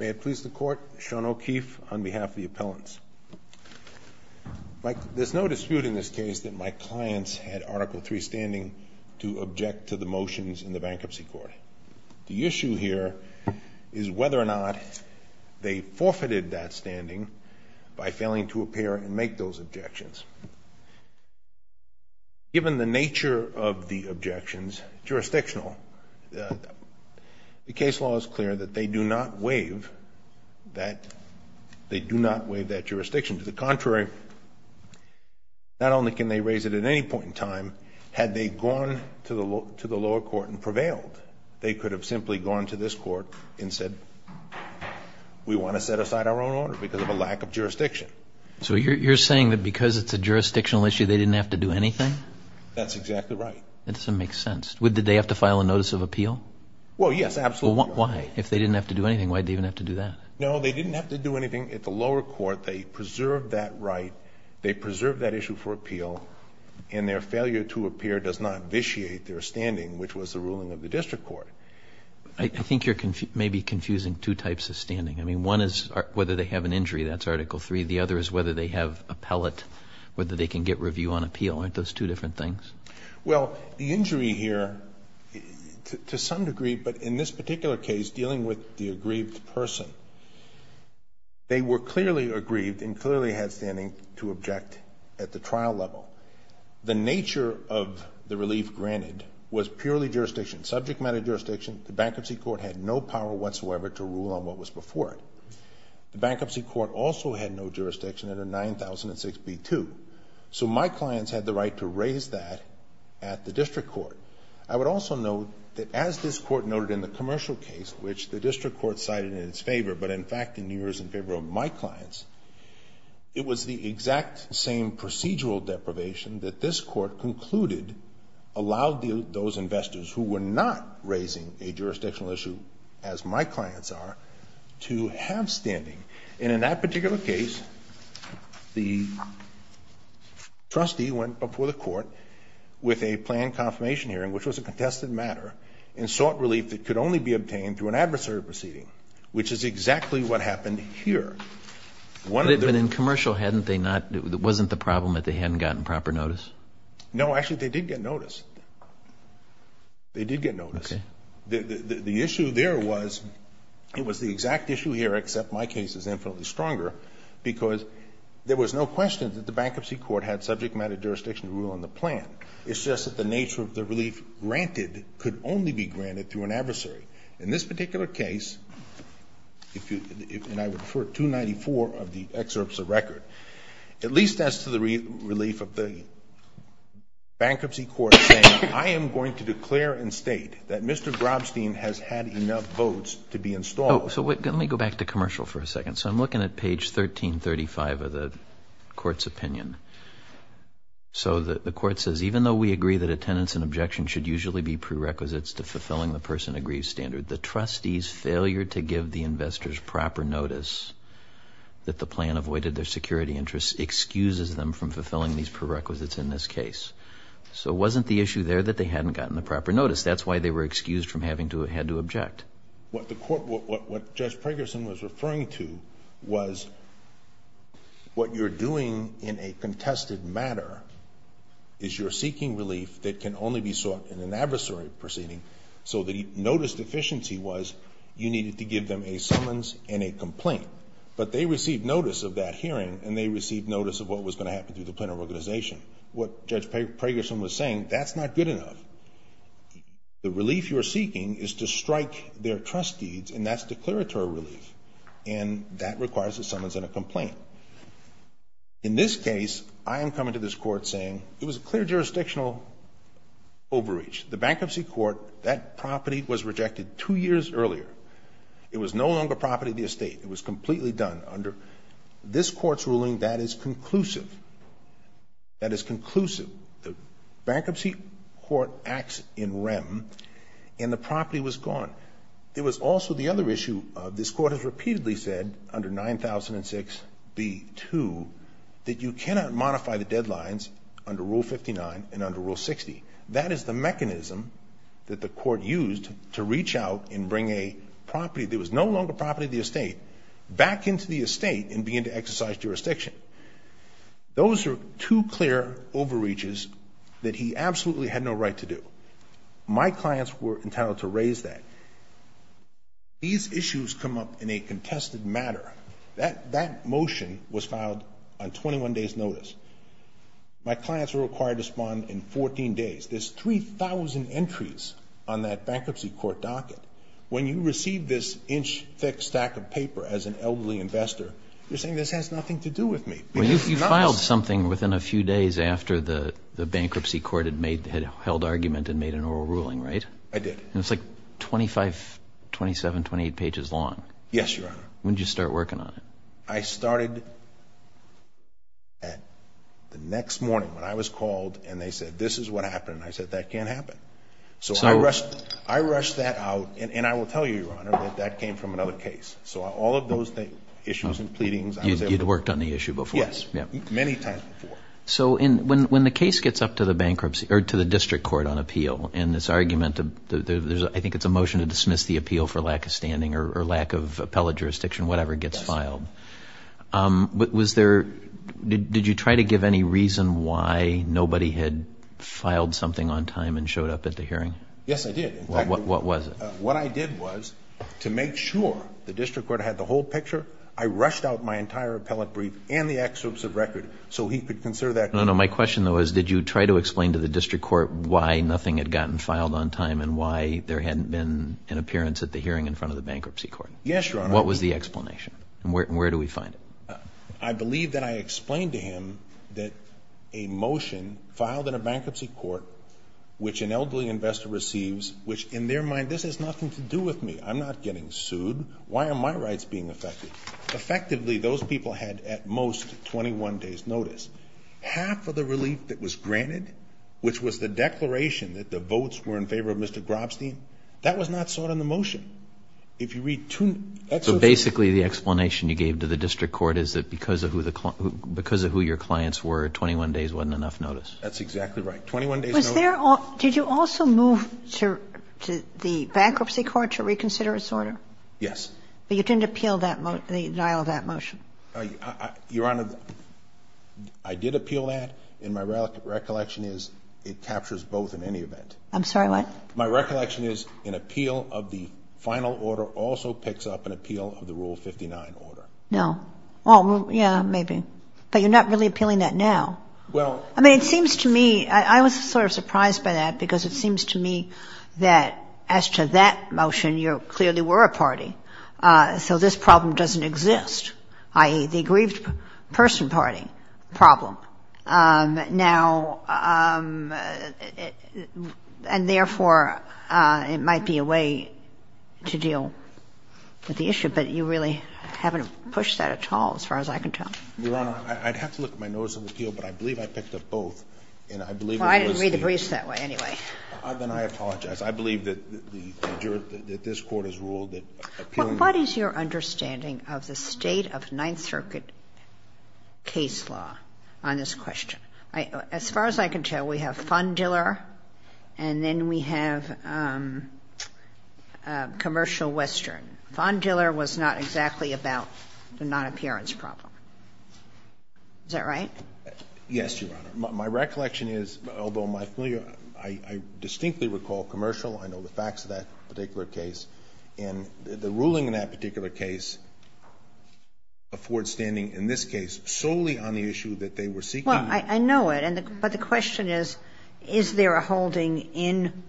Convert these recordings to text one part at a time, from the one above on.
May it please the court, Sean O'Keefe on behalf of the appellants. There's no dispute in this case that my clients had Article III standing to object to the motions in the Bankruptcy Court. The issue here is whether or not they forfeited that standing by failing to appear and make those objections. Given the nature of the objections, jurisdictional, the case law is clear that they do not waive that jurisdiction. To the contrary, not only can they raise it at any point in time, had they gone to the lower court and prevailed, they could have simply gone to this court and said, we want to set aside our own order because of a lack of jurisdiction. So you're saying that because it's a jurisdictional issue, they didn't have to do anything? That's exactly right. That doesn't make sense. Did they have to file a notice of appeal? Well, yes, absolutely. Why? If they didn't have to do anything, why did they even have to do that? No, they didn't have to do anything at the lower court. They preserved that right. They preserved that issue for appeal. And their failure to appear does not vitiate their standing, which was the ruling of the district court. I think you're maybe confusing two types of standing. I mean, one is whether they have an injury. That's Article III. The other is whether they have appellate, whether they can get review on appeal. Aren't those two different things? Well, the injury here, to some degree, but in this particular case, dealing with the aggrieved person, they were clearly aggrieved and clearly had standing to object at the trial level. The nature of the relief granted was purely jurisdiction, subject matter jurisdiction. The bankruptcy court had no power whatsoever to rule on what was before it. The bankruptcy court also had no jurisdiction under 9006b2. So my clients had the right to raise that at the district court. I would also note that as this court noted in the commercial case, which the district court cited in its favor, but in fact in New Year's in favor of my clients, it was the exact same procedural deprivation that this court concluded allowed those investors who were not raising a jurisdictional issue as my clients are to have standing. And in that particular case, the trustee went before the court with a planned confirmation hearing, which was a contested matter, and sought relief that could only be obtained through an adversary proceeding, which is exactly what happened here. But in commercial, wasn't the problem that they hadn't gotten proper notice? No. Actually, they did get notice. They did get notice. Okay. The issue there was, it was the exact issue here, except my case is infinitely stronger, because there was no question that the bankruptcy court had subject matter jurisdiction to rule on the plan. It's just that the nature of the relief granted could only be granted through an adversary. In this particular case, and I would refer 294 of the excerpts of record, at least as to the relief of the bankruptcy court saying, I am going to declare and state that Mr. Grobstein has had enough votes to be installed. Oh, so let me go back to commercial for a second. So I'm looking at page 1335 of the court's opinion. So the court says, even though we agree that attendance and objection should usually be prerequisites to fulfilling the person agrees standard, the trustee's to give the investors proper notice that the plan avoided their security interests excuses them from fulfilling these prerequisites in this case. So wasn't the issue there that they hadn't gotten the proper notice? That's why they were excused from having to, had to object. What the court, what Judge Preggerson was referring to was what you're doing in a contested matter is you're seeking relief that can only be sought in an adversary proceeding. So the notice deficiency was you needed to give them a summons and a complaint, but they received notice of that hearing and they received notice of what was going to happen to the planner organization. What Judge Preggerson was saying, that's not good enough. The relief you're seeking is to strike their trust deeds and that's declaratory relief. And that requires a summons and a complaint. In this case, I am coming to this court saying it was a clear jurisdictional overreach. The Bankruptcy Court, that property was rejected two years earlier. It was no longer property of the estate. It was completely done under this court's ruling that is conclusive. That is conclusive. The Bankruptcy Court acts in REM and the property was gone. It was also the other issue, this court has repeatedly said under 9006B2 that you cannot that the court used to reach out and bring a property that was no longer property of the estate back into the estate and begin to exercise jurisdiction. Those are two clear overreaches that he absolutely had no right to do. My clients were entitled to raise that. These issues come up in a contested matter. That motion was filed on 21 days' notice. My clients were required to respond in 14 days. There's 3,000 entries on that Bankruptcy Court docket. When you receive this inch thick stack of paper as an elderly investor, you're saying this has nothing to do with me. Well, you filed something within a few days after the Bankruptcy Court had made, had held argument and made an oral ruling, right? I did. And it's like 25, 27, 28 pages long. Yes, Your Honor. When did you start working on it? I started at the next morning when I was called and they said, this is what happened. I said, that can't happen. So I rushed that out. And I will tell you, Your Honor, that that came from another case. So all of those issues and pleadings, I was able to work on. You'd worked on the issue before? Yes. Many times before. So when the case gets up to the bankruptcy, or to the district court on appeal, and this argument, I think it's a motion to dismiss the appeal for lack of standing or lack of trial. Was there, did you try to give any reason why nobody had filed something on time and showed up at the hearing? Yes, I did. What was it? What I did was, to make sure the district court had the whole picture, I rushed out my entire appellate brief and the excerpts of record so he could consider that. No, no. My question though is, did you try to explain to the district court why nothing had gotten filed on time and why there hadn't been an appearance at the hearing in front of the Bankruptcy Court? Yes, Your Honor. What was the explanation? And where do we find it? I believe that I explained to him that a motion filed in a bankruptcy court, which an elderly investor receives, which in their mind, this has nothing to do with me. I'm not getting sued. Why are my rights being affected? Effectively, those people had at most 21 days' notice. Half of the relief that was granted, which was the declaration that the votes were in favor of the bankruptcy court, was in favor of the bankruptcy court. So basically, the explanation you gave to the district court is that because of who your clients were, 21 days wasn't enough notice. That's exactly right. 21 days' notice. Did you also move to the Bankruptcy Court to reconsider its order? Yes. But you didn't appeal the denial of that motion? Your Honor, I did appeal that, and my recollection is it captures both in any event. I'm sorry, what? My recollection is an appeal of the final order also picks up an appeal of the Rule 59 order. No. Well, yeah, maybe. But you're not really appealing that now. Well — I mean, it seems to me — I was sort of surprised by that because it seems to me that as to that motion, you clearly were a party. So this problem doesn't exist, i.e., the grieved person party problem. Now — and therefore, it might be a way to deal with the issue, but you really haven't pushed that at all, as far as I can tell. Your Honor, I'd have to look at my notice of appeal, but I believe I picked up both. And I believe it was the — Well, I didn't read the briefs that way, anyway. Then I apologize. I believe that this Court has ruled that appealing — What is your understanding of the State of Ninth Circuit case law on this question? As far as I can tell, we have Fondiller and then we have Commercial Western. Fondiller was not exactly about the non-appearance problem. Is that right? Yes, Your Honor. My recollection is, although my — I distinctly recall Commercial. I know the facts of that particular case. And the ruling in that particular case affords standing in this case solely on the issue that they were seeking. Well, I know it. But the question is, is there a holding in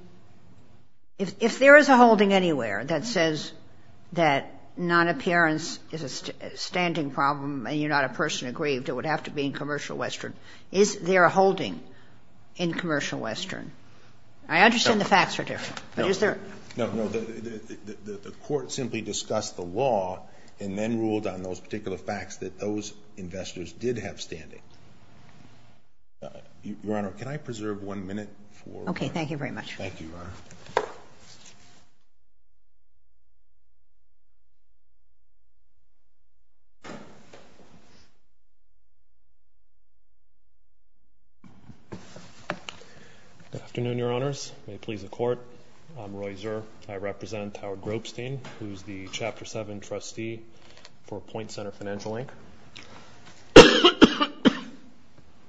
— if there is a holding anywhere that says that non-appearance is a standing problem and you're not a person aggrieved, it would have to be in Commercial Western. Is there a holding in Commercial Western? I understand the facts are different. But is there — No, no. The Court simply discussed the law and then ruled on those particular facts that those investors did have standing. Your Honor, can I preserve one minute for — Okay. Thank you very much. Thank you, Your Honor. Good afternoon, Your Honors. May it please the Court, I'm Roy Zer. I represent Howard Gropstein, who's the Chapter 7 trustee for Point Center Financial Inc.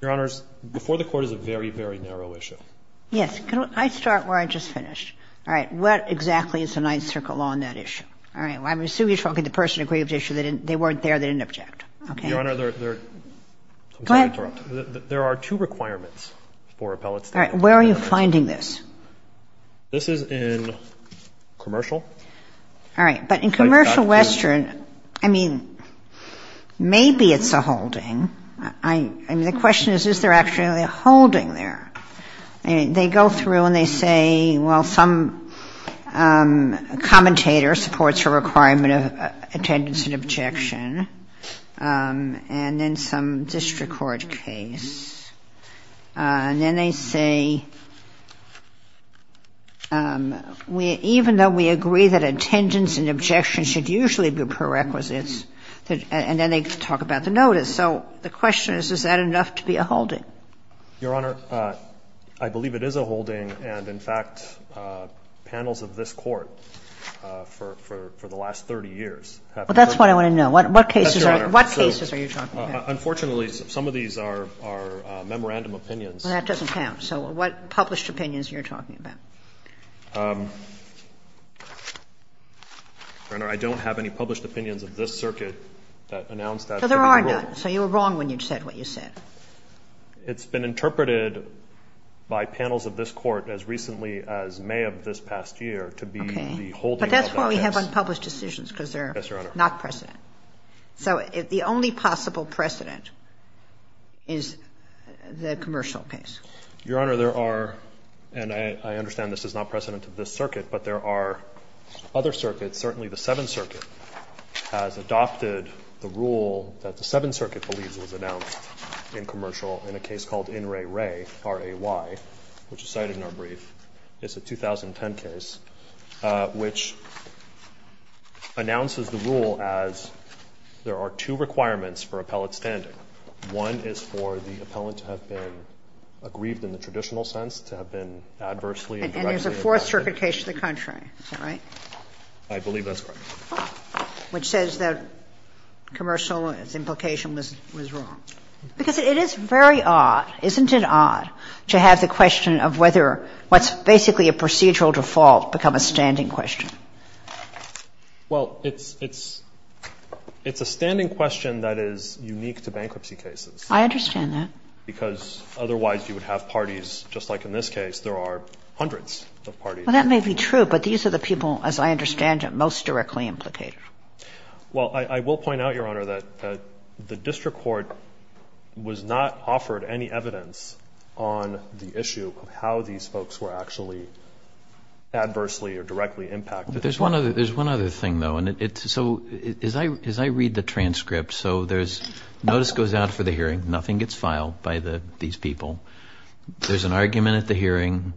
Your Honors, before the Court is a very, very narrow issue. Yes. Can I start where I just finished? All right. What exactly is the Ninth Circle on that issue? All right. Well, I'm assuming you're talking to the person aggrieved issue. They weren't there. They didn't object. Okay? Your Honor, there are two requirements for appellate standing. All right. Where are you finding this? This is in Commercial. All right. But in Commercial Western, I mean, maybe it's a holding. I mean, the question is, is there actually a holding there? They go through and they say, well, some commentator supports a requirement of attendance and objection, and then some district court case. And then they say, even though we agree that attendance and objection should usually be prerequisites, and then they talk about the notice. So the question is, is that enough to be a holding? Your Honor, I believe it is a holding, and, in fact, panels of this Court for the last 30 years have been put together. Well, that's what I want to know. What cases are you talking about? Unfortunately, some of these are memorandum opinions. Well, that doesn't count. So what published opinions are you talking about? Your Honor, I don't have any published opinions of this circuit that announced that. So there are none. So you were wrong when you said what you said. It's been interpreted by panels of this Court as recently as May of this past year to be the holding of the I.S. Okay. But that's why we have unpublished decisions, because they're not precedent. Yes, Your Honor. So the only possible precedent is the Commercial case. Your Honor, there are, and I understand this is not precedent of this circuit, but there are other circuits, certainly the Seventh Circuit, has adopted the rule that the Seventh Circuit believes was announced in Commercial in a case called In Re Re, R-A-Y, which is cited in our brief. It's a 2010 case, which announces the rule as there are two requirements for appellate standing. One is for the appellant to have been aggrieved in the traditional sense, to have been adversely and directly aggrieved. And there's a Fourth Circuit case to the contrary. Is that right? I believe that's correct. Which says that Commercial's implication was wrong. Because it is very odd, isn't it odd, to have the question of whether what's basically a procedural default become a standing question? Well, it's a standing question that is unique to bankruptcy cases. I understand that. Because otherwise you would have parties, just like in this case, there are hundreds of parties. Well, that may be true, but these are the people, as I understand it, most directly implicated. Well, I will point out, Your Honor, that the district court was not offered any evidence on the issue of how these folks were actually adversely or directly impacted. There's one other thing, though. As I read the transcript, notice goes out for the hearing. Nothing gets filed by these people. There's an argument at the hearing.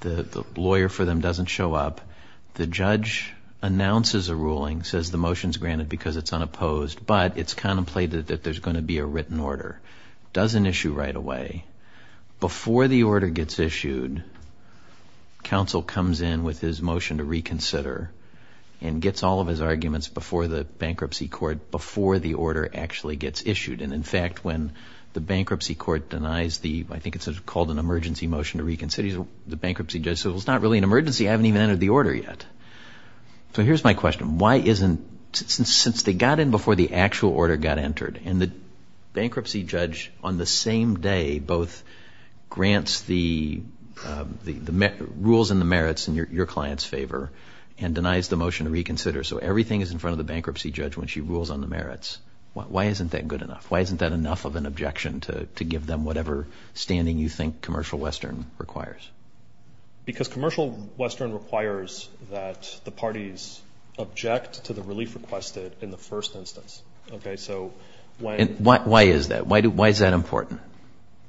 The lawyer for them doesn't show up. The judge announces a ruling, says the motion's granted because it's unopposed, but it's contemplated that there's going to be a written order. Doesn't issue right away. Before the order gets issued, counsel comes in with his motion to reconsider and gets all of his arguments before the bankruptcy court, before the order actually gets issued. And in fact, when the bankruptcy court denies the, I think it's called an emergency motion to reconsider, the bankruptcy judge says, well, it's not really an emergency. I haven't even entered the order yet. So here's my question. Why isn't, since they got in before the actual order got entered and the bankruptcy judge on the same day both grants the rules and the merits in your client's favor and denies the motion to reconsider, so everything is in front of the bankruptcy judge when she rules on the merits, why isn't that good enough? Why isn't that enough of an objection to give them whatever standing you think Commercial Western requires? Because Commercial Western requires that the parties object to the relief requested in the first instance. Okay. So why is that? Why is that important?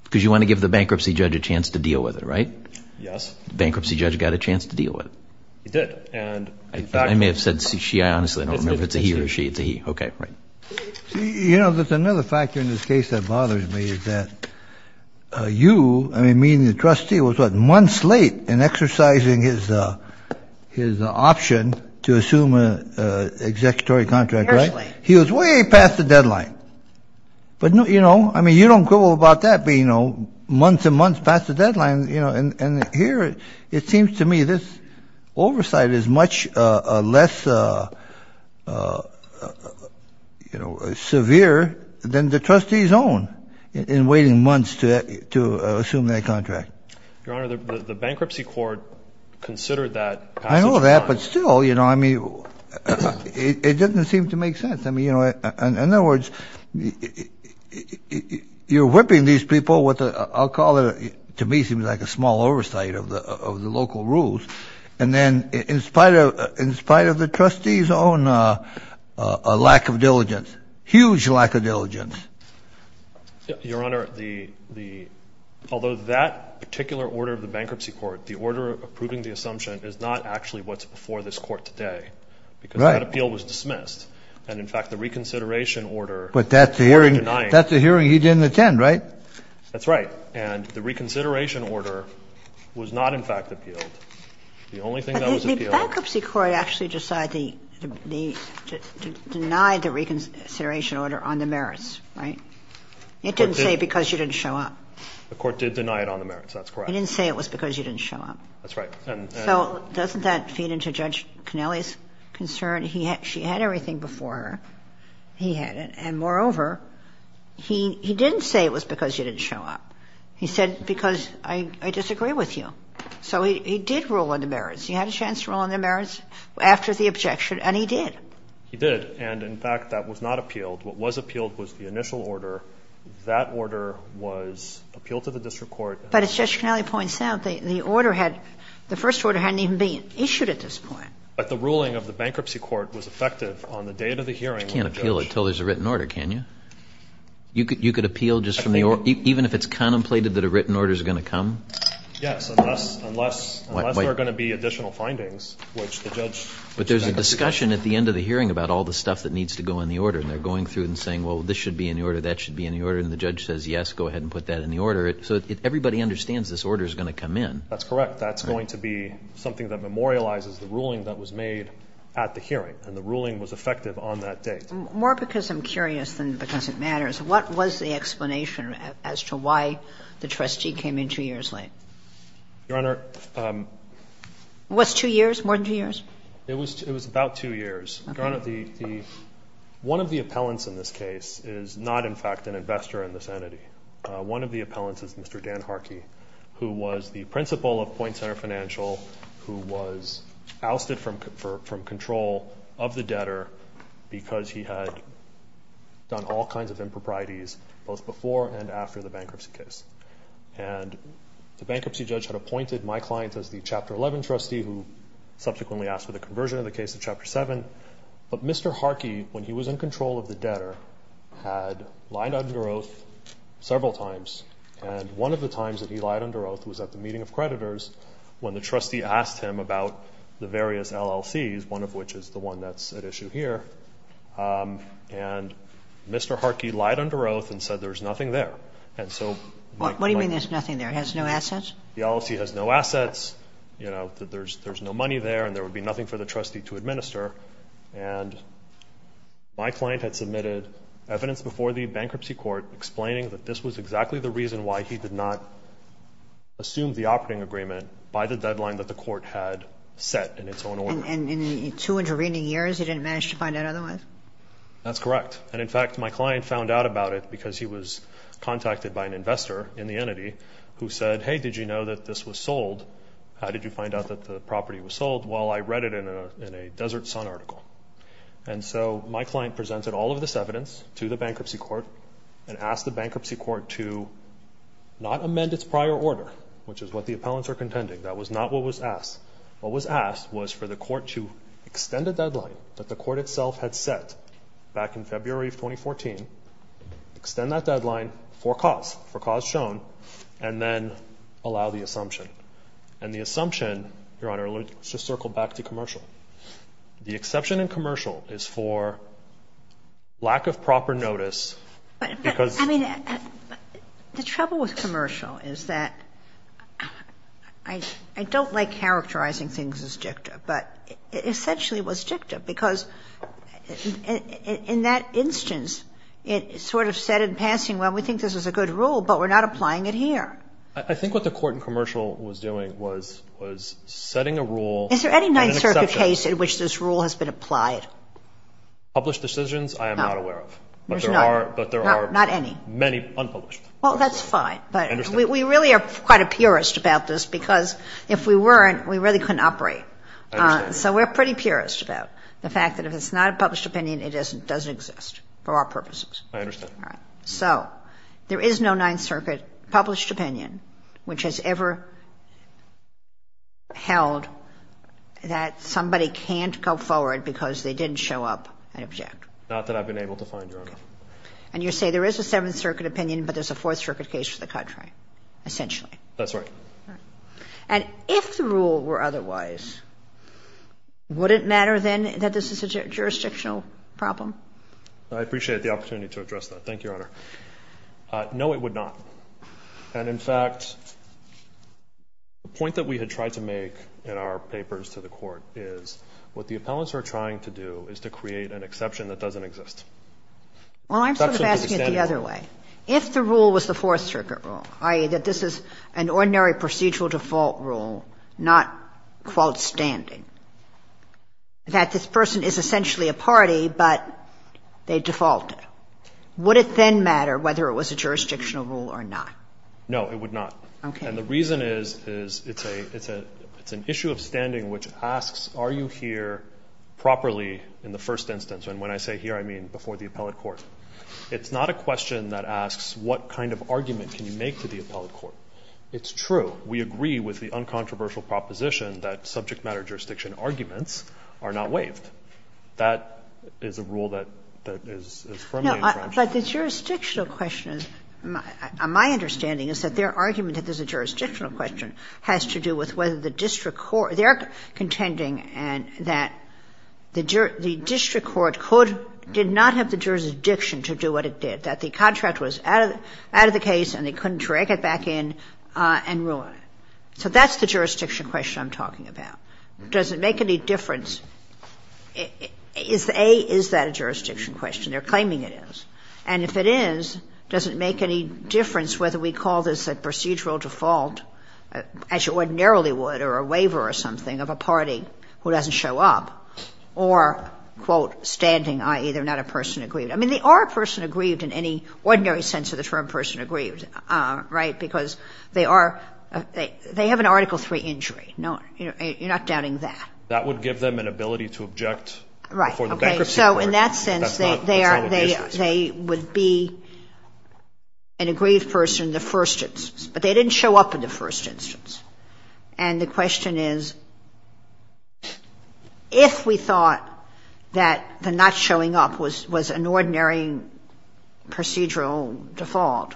Because you want to give the bankruptcy judge a chance to deal with it, right? Yes. Bankruptcy judge got a chance to deal with it. He did. And I may have said she, I honestly don't know if it's a he or she. It's a he. Okay. Right. You know, that's another factor in this case that bothers me is that you, I mean, the trustee was months late in exercising his option to assume an executory contract, right? He was way past the deadline. But, you know, I mean, you don't go about that, but, you know, months and months past the deadline, you know, and here it seems to me this oversight is much less, you know, severe than the trustee's own in waiting months to assume that contract. Your Honor, the bankruptcy court considered that. I know that, but still, you know, I mean, it doesn't seem to make sense. I mean, you know, in other words, you're whipping these people with a, I'll call it, to me it seems like a small oversight of the local rules. And then in spite of the trustee's own lack of diligence, huge lack of diligence. Your Honor, the, although that particular order of the bankruptcy court, the order approving the assumption is not actually what's before this court today because that appeal was dismissed. And in fact, the reconsideration order. But that's the hearing he didn't attend, right? That's right. And the reconsideration order was not, in fact, appealed. The only thing that was appealed. The bankruptcy court actually decided the, denied the reconsideration order on the merits, right? It didn't say because you didn't show up. The court did deny it on the merits. That's correct. It didn't say it was because you didn't show up. That's right. So doesn't that feed into Judge Canelli's concern? He had, she had everything before her. He had it. And moreover, he didn't say it was because you didn't show up. He said it was because I disagree with you. So he did rule on the merits. He had a chance to rule on the merits after the objection, and he did. He did. And in fact, that was not appealed. What was appealed was the initial order. That order was appealed to the district court. But as Judge Canelli points out, the order had, the first order hadn't even been issued at this point. But the ruling of the bankruptcy court was effective on the date of the hearing when the judge. You can't appeal it until there's a written order, can you? You could appeal just from the order. Even if it's contemplated that a written order is going to come? Yes, unless, unless, unless there are going to be additional findings, which the judge. But there's a discussion at the end of the hearing about all the stuff that needs to go in the order. And they're going through and saying, well, this should be in the order, that should be in the order. And the judge says, yes, go ahead and put that in the order. So everybody understands this order is going to come in. That's correct. That's going to be something that memorializes the ruling that was made at the hearing. And the ruling was effective on that date. More because I'm curious than because it matters. What was the explanation as to why the trustee came in two years late? Your Honor. Was two years, more than two years? It was, it was about two years. Your Honor, one of the appellants in this case is not, in fact, an investor in this entity. One of the appellants is Mr. Dan Harkey, who was the principal of Point Center Financial, who was ousted from, from control of the debtor because he had done all kinds of improprieties, both before and after the bankruptcy case. And the bankruptcy judge had appointed my client as the Chapter 11 trustee, who subsequently asked for the conversion of the case of Chapter 7. But Mr. Harkey, when he was in control of the debtor, had lied under oath several times. And one of the times that he lied under oath was at a meeting of creditors when the trustee asked him about the various LLCs, one of which is the one that's at issue here. And Mr. Harkey lied under oath and said there's nothing there. And so... What do you mean there's nothing there? It has no assets? The LLC has no assets. You know, there's, there's no money there and there would be nothing for the trustee to administer. And my client had submitted evidence before the bankruptcy court explaining that this was exactly the reason why he did not assume the operating agreement by the deadline that the court had set in its own order. And in two intervening years, he didn't manage to find out otherwise? That's correct. And in fact, my client found out about it because he was contacted by an investor in the entity who said, hey, did you know that this was sold? How did you find out that the property was sold? Well, I read it in a Desert Sun article. And so my client presented all of this evidence to the court, which is what the appellants are contending. That was not what was asked. What was asked was for the court to extend a deadline that the court itself had set back in February of 2014, extend that deadline for cause, for cause shown, and then allow the assumption. And the assumption, Your Honor, let's just circle back to commercial. The exception in commercial is for lack of proper notice because... In commercial is that... I don't like characterizing things as dicta, but essentially it was dicta because in that instance, it sort of said in passing, well, we think this is a good rule, but we're not applying it here. I think what the court in commercial was doing was setting a rule... Is there any Ninth Circuit case in which this rule has been applied? Published decisions, I am not aware of. There's none. But there are... Not any. Many unpublished. Well, that's fine. But we really are quite a purist about this because if we weren't, we really couldn't operate. So we're pretty purist about the fact that if it's not a published opinion, it doesn't exist for our purposes. I understand. So there is no Ninth Circuit published opinion which has ever held that somebody can't go forward because they didn't show up and object. Not that I've been able to find, Your Honor. And you say there is a Seventh Circuit opinion, but there's a Fourth Circuit case for the contract, essentially. That's right. And if the rule were otherwise, would it matter then that this is a jurisdictional problem? I appreciate the opportunity to address that. Thank you, Your Honor. No, it would not. And in fact, the point that we had tried to make in our papers to the court is what the appellants are trying to do is to create an exception that doesn't exist. Well, I'm sort of asking it the other way. If the rule was the Fourth Circuit rule, i.e. that this is an ordinary procedural default rule, not, quote, standing, that this person is essentially a party, but they defaulted, would it then matter whether it was a jurisdictional rule or not? No, it would not. Okay. And the reason is, is it's a, it's a, it's an issue of standing which asks, are you here properly in the first instance? And when I say here, I mean before the appellate court. It's not a question that asks what kind of argument can you make to the appellate court? It's true. We agree with the uncontroversial proposition that subject matter jurisdiction arguments are not waived. That is a rule that, that is, is firmly in French. No, but the jurisdictional question is, my understanding is that their argument that there's a jurisdictional question has to do with whether the district court, they're contending that the district court could, did not have the jurisdiction to do what it did, that the contract was out of the case and they couldn't drag it back in and ruin it. So that's the jurisdiction question I'm talking about. Does it make any difference? Is the A, is that a jurisdiction question? They're claiming it is. And if it is, does it make any difference whether we call this a procedural default, as you ordinarily would, or a waiver or something of a party who doesn't show up or quote, standing, i.e. they're not a person aggrieved. I mean, they are a person aggrieved in any ordinary sense of the term person aggrieved, right? Because they are, they have an article three injury. No, you know, you're not doubting that. That would give them an ability to object before the bankruptcy court. So in that sense, they would be an aggrieved person, the first instance, but they didn't show up in the first instance. And the question is, if we thought that the not showing up was, was an ordinary procedural default,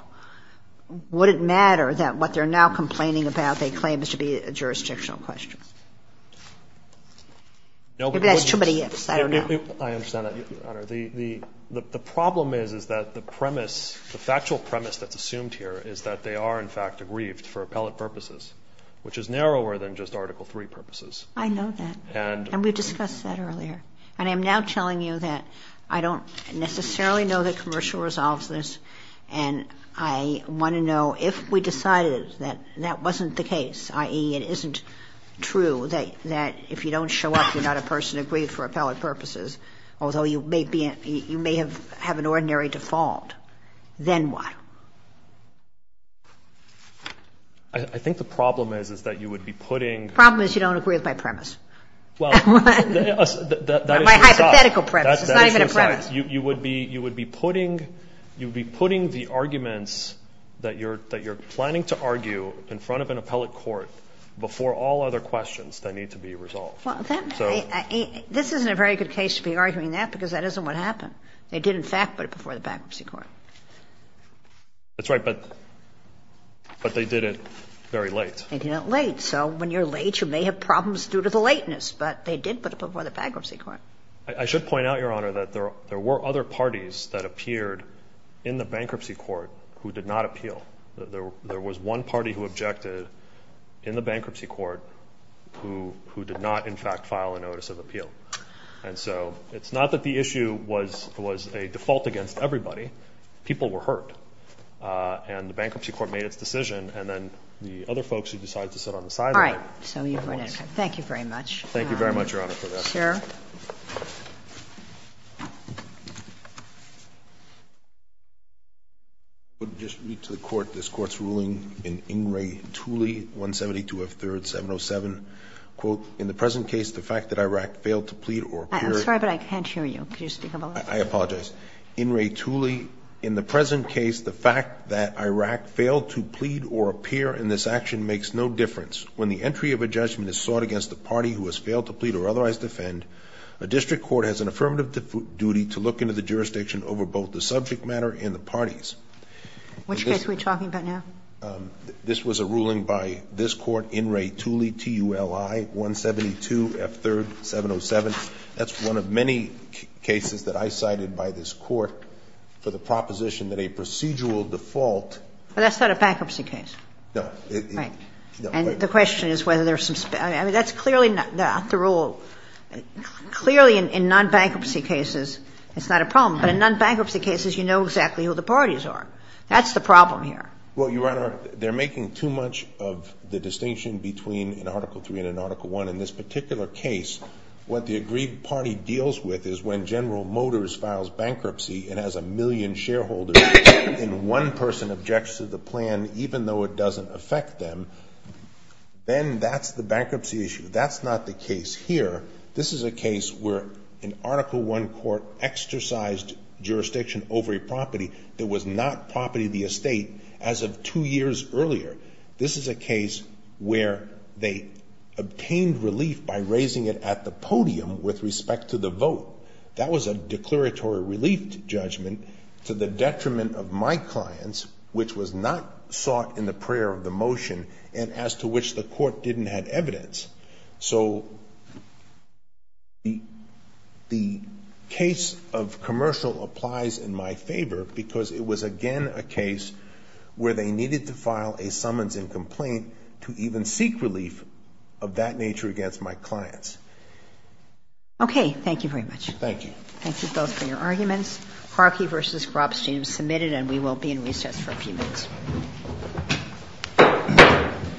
would it matter that what they're now complaining about, they claim is to be a jurisdictional question? If that's too many ifs, I don't know. I understand that, Your Honor. The, the, the problem is, is that the premise, the factual premise that's aggrieved for appellate purposes, which is narrower than just article three purposes. I know that. And we've discussed that earlier. And I'm now telling you that I don't necessarily know that commercial resolves this. And I want to know if we decided that that wasn't the case, i.e. it isn't true that, that if you don't show up, you're not a person aggrieved for appellate purposes, although you may be, you may have have an ordinary default, then what? I think the problem is, is that you would be putting. Problem is you don't agree with my premise. Well, that is. My hypothetical premise, it's not even a premise. You, you would be, you would be putting, you'd be putting the arguments that you're, that you're planning to argue in front of an appellate court before all other questions that need to be resolved. Well, that, this isn't a very good case to be arguing that because that isn't what happened. They did in fact put it before the bankruptcy court. That's right. But, but they did it very late. They did it late. So when you're late, you may have problems due to the lateness, but they did put it before the bankruptcy court. I should point out, Your Honor, that there were other parties that appeared in the bankruptcy court who did not appeal. There, there was one party who objected in the bankruptcy court who, who did not in fact file a notice of appeal. And so it's not that the issue was, was a default against everybody. People were hurt. And the bankruptcy court made its decision. And then the other folks who decided to sit on the sideline. So you've read it. Thank you very much. Thank you very much, Your Honor, for that. Sure. I would just read to the court this court's ruling in In re Tulli, 172 of third 707, quote, in the present case, the fact that Iraq failed to plead or I'm sorry, but I can't hear you. Could you speak up a little bit? I apologize. In re Tulli in the present case, the fact that Iraq failed to plead or appear in this action makes no difference when the entry of a judgment is sought against the party who has failed to plead or otherwise defend a district court has an affirmative duty to look into the jurisdiction over both the subject matter and the parties, which we're talking about now. This was a ruling by this court in re Tulli T U L I 172 F third 707. That's one of many cases that I cited by this court for the proposition that a procedural default. Well, that's not a bankruptcy case. No. And the question is whether there's some, I mean, that's clearly not the rule. Clearly in non-bankruptcy cases, it's not a problem, but in non-bankruptcy cases, you know exactly who the parties are. That's the problem here. Well, Your Honor, they're making too much of the distinction between an article three and an article one in this particular case, what the agreed party deals with is when general motors files bankruptcy and has a million shareholders in one person objects to the plan, even though it doesn't affect them, then that's the bankruptcy issue. That's not the case here. This is a case where an article one court exercised jurisdiction over a property that was not property of the estate as of two years earlier, this is a case where they obtained relief by raising it at the podium with respect to the vote. That was a declaratory relief judgment to the detriment of my clients, which was not sought in the prayer of the motion and as to which the court didn't have evidence. So the case of commercial applies in my favor because it was again, a case where they needed to file a summons and complaint to even seek relief of that nature against my clients. Okay. Thank you very much. Thank you. Thank you both for your arguments. Harkey versus Grobstein was submitted and we will be in recess for a few minutes.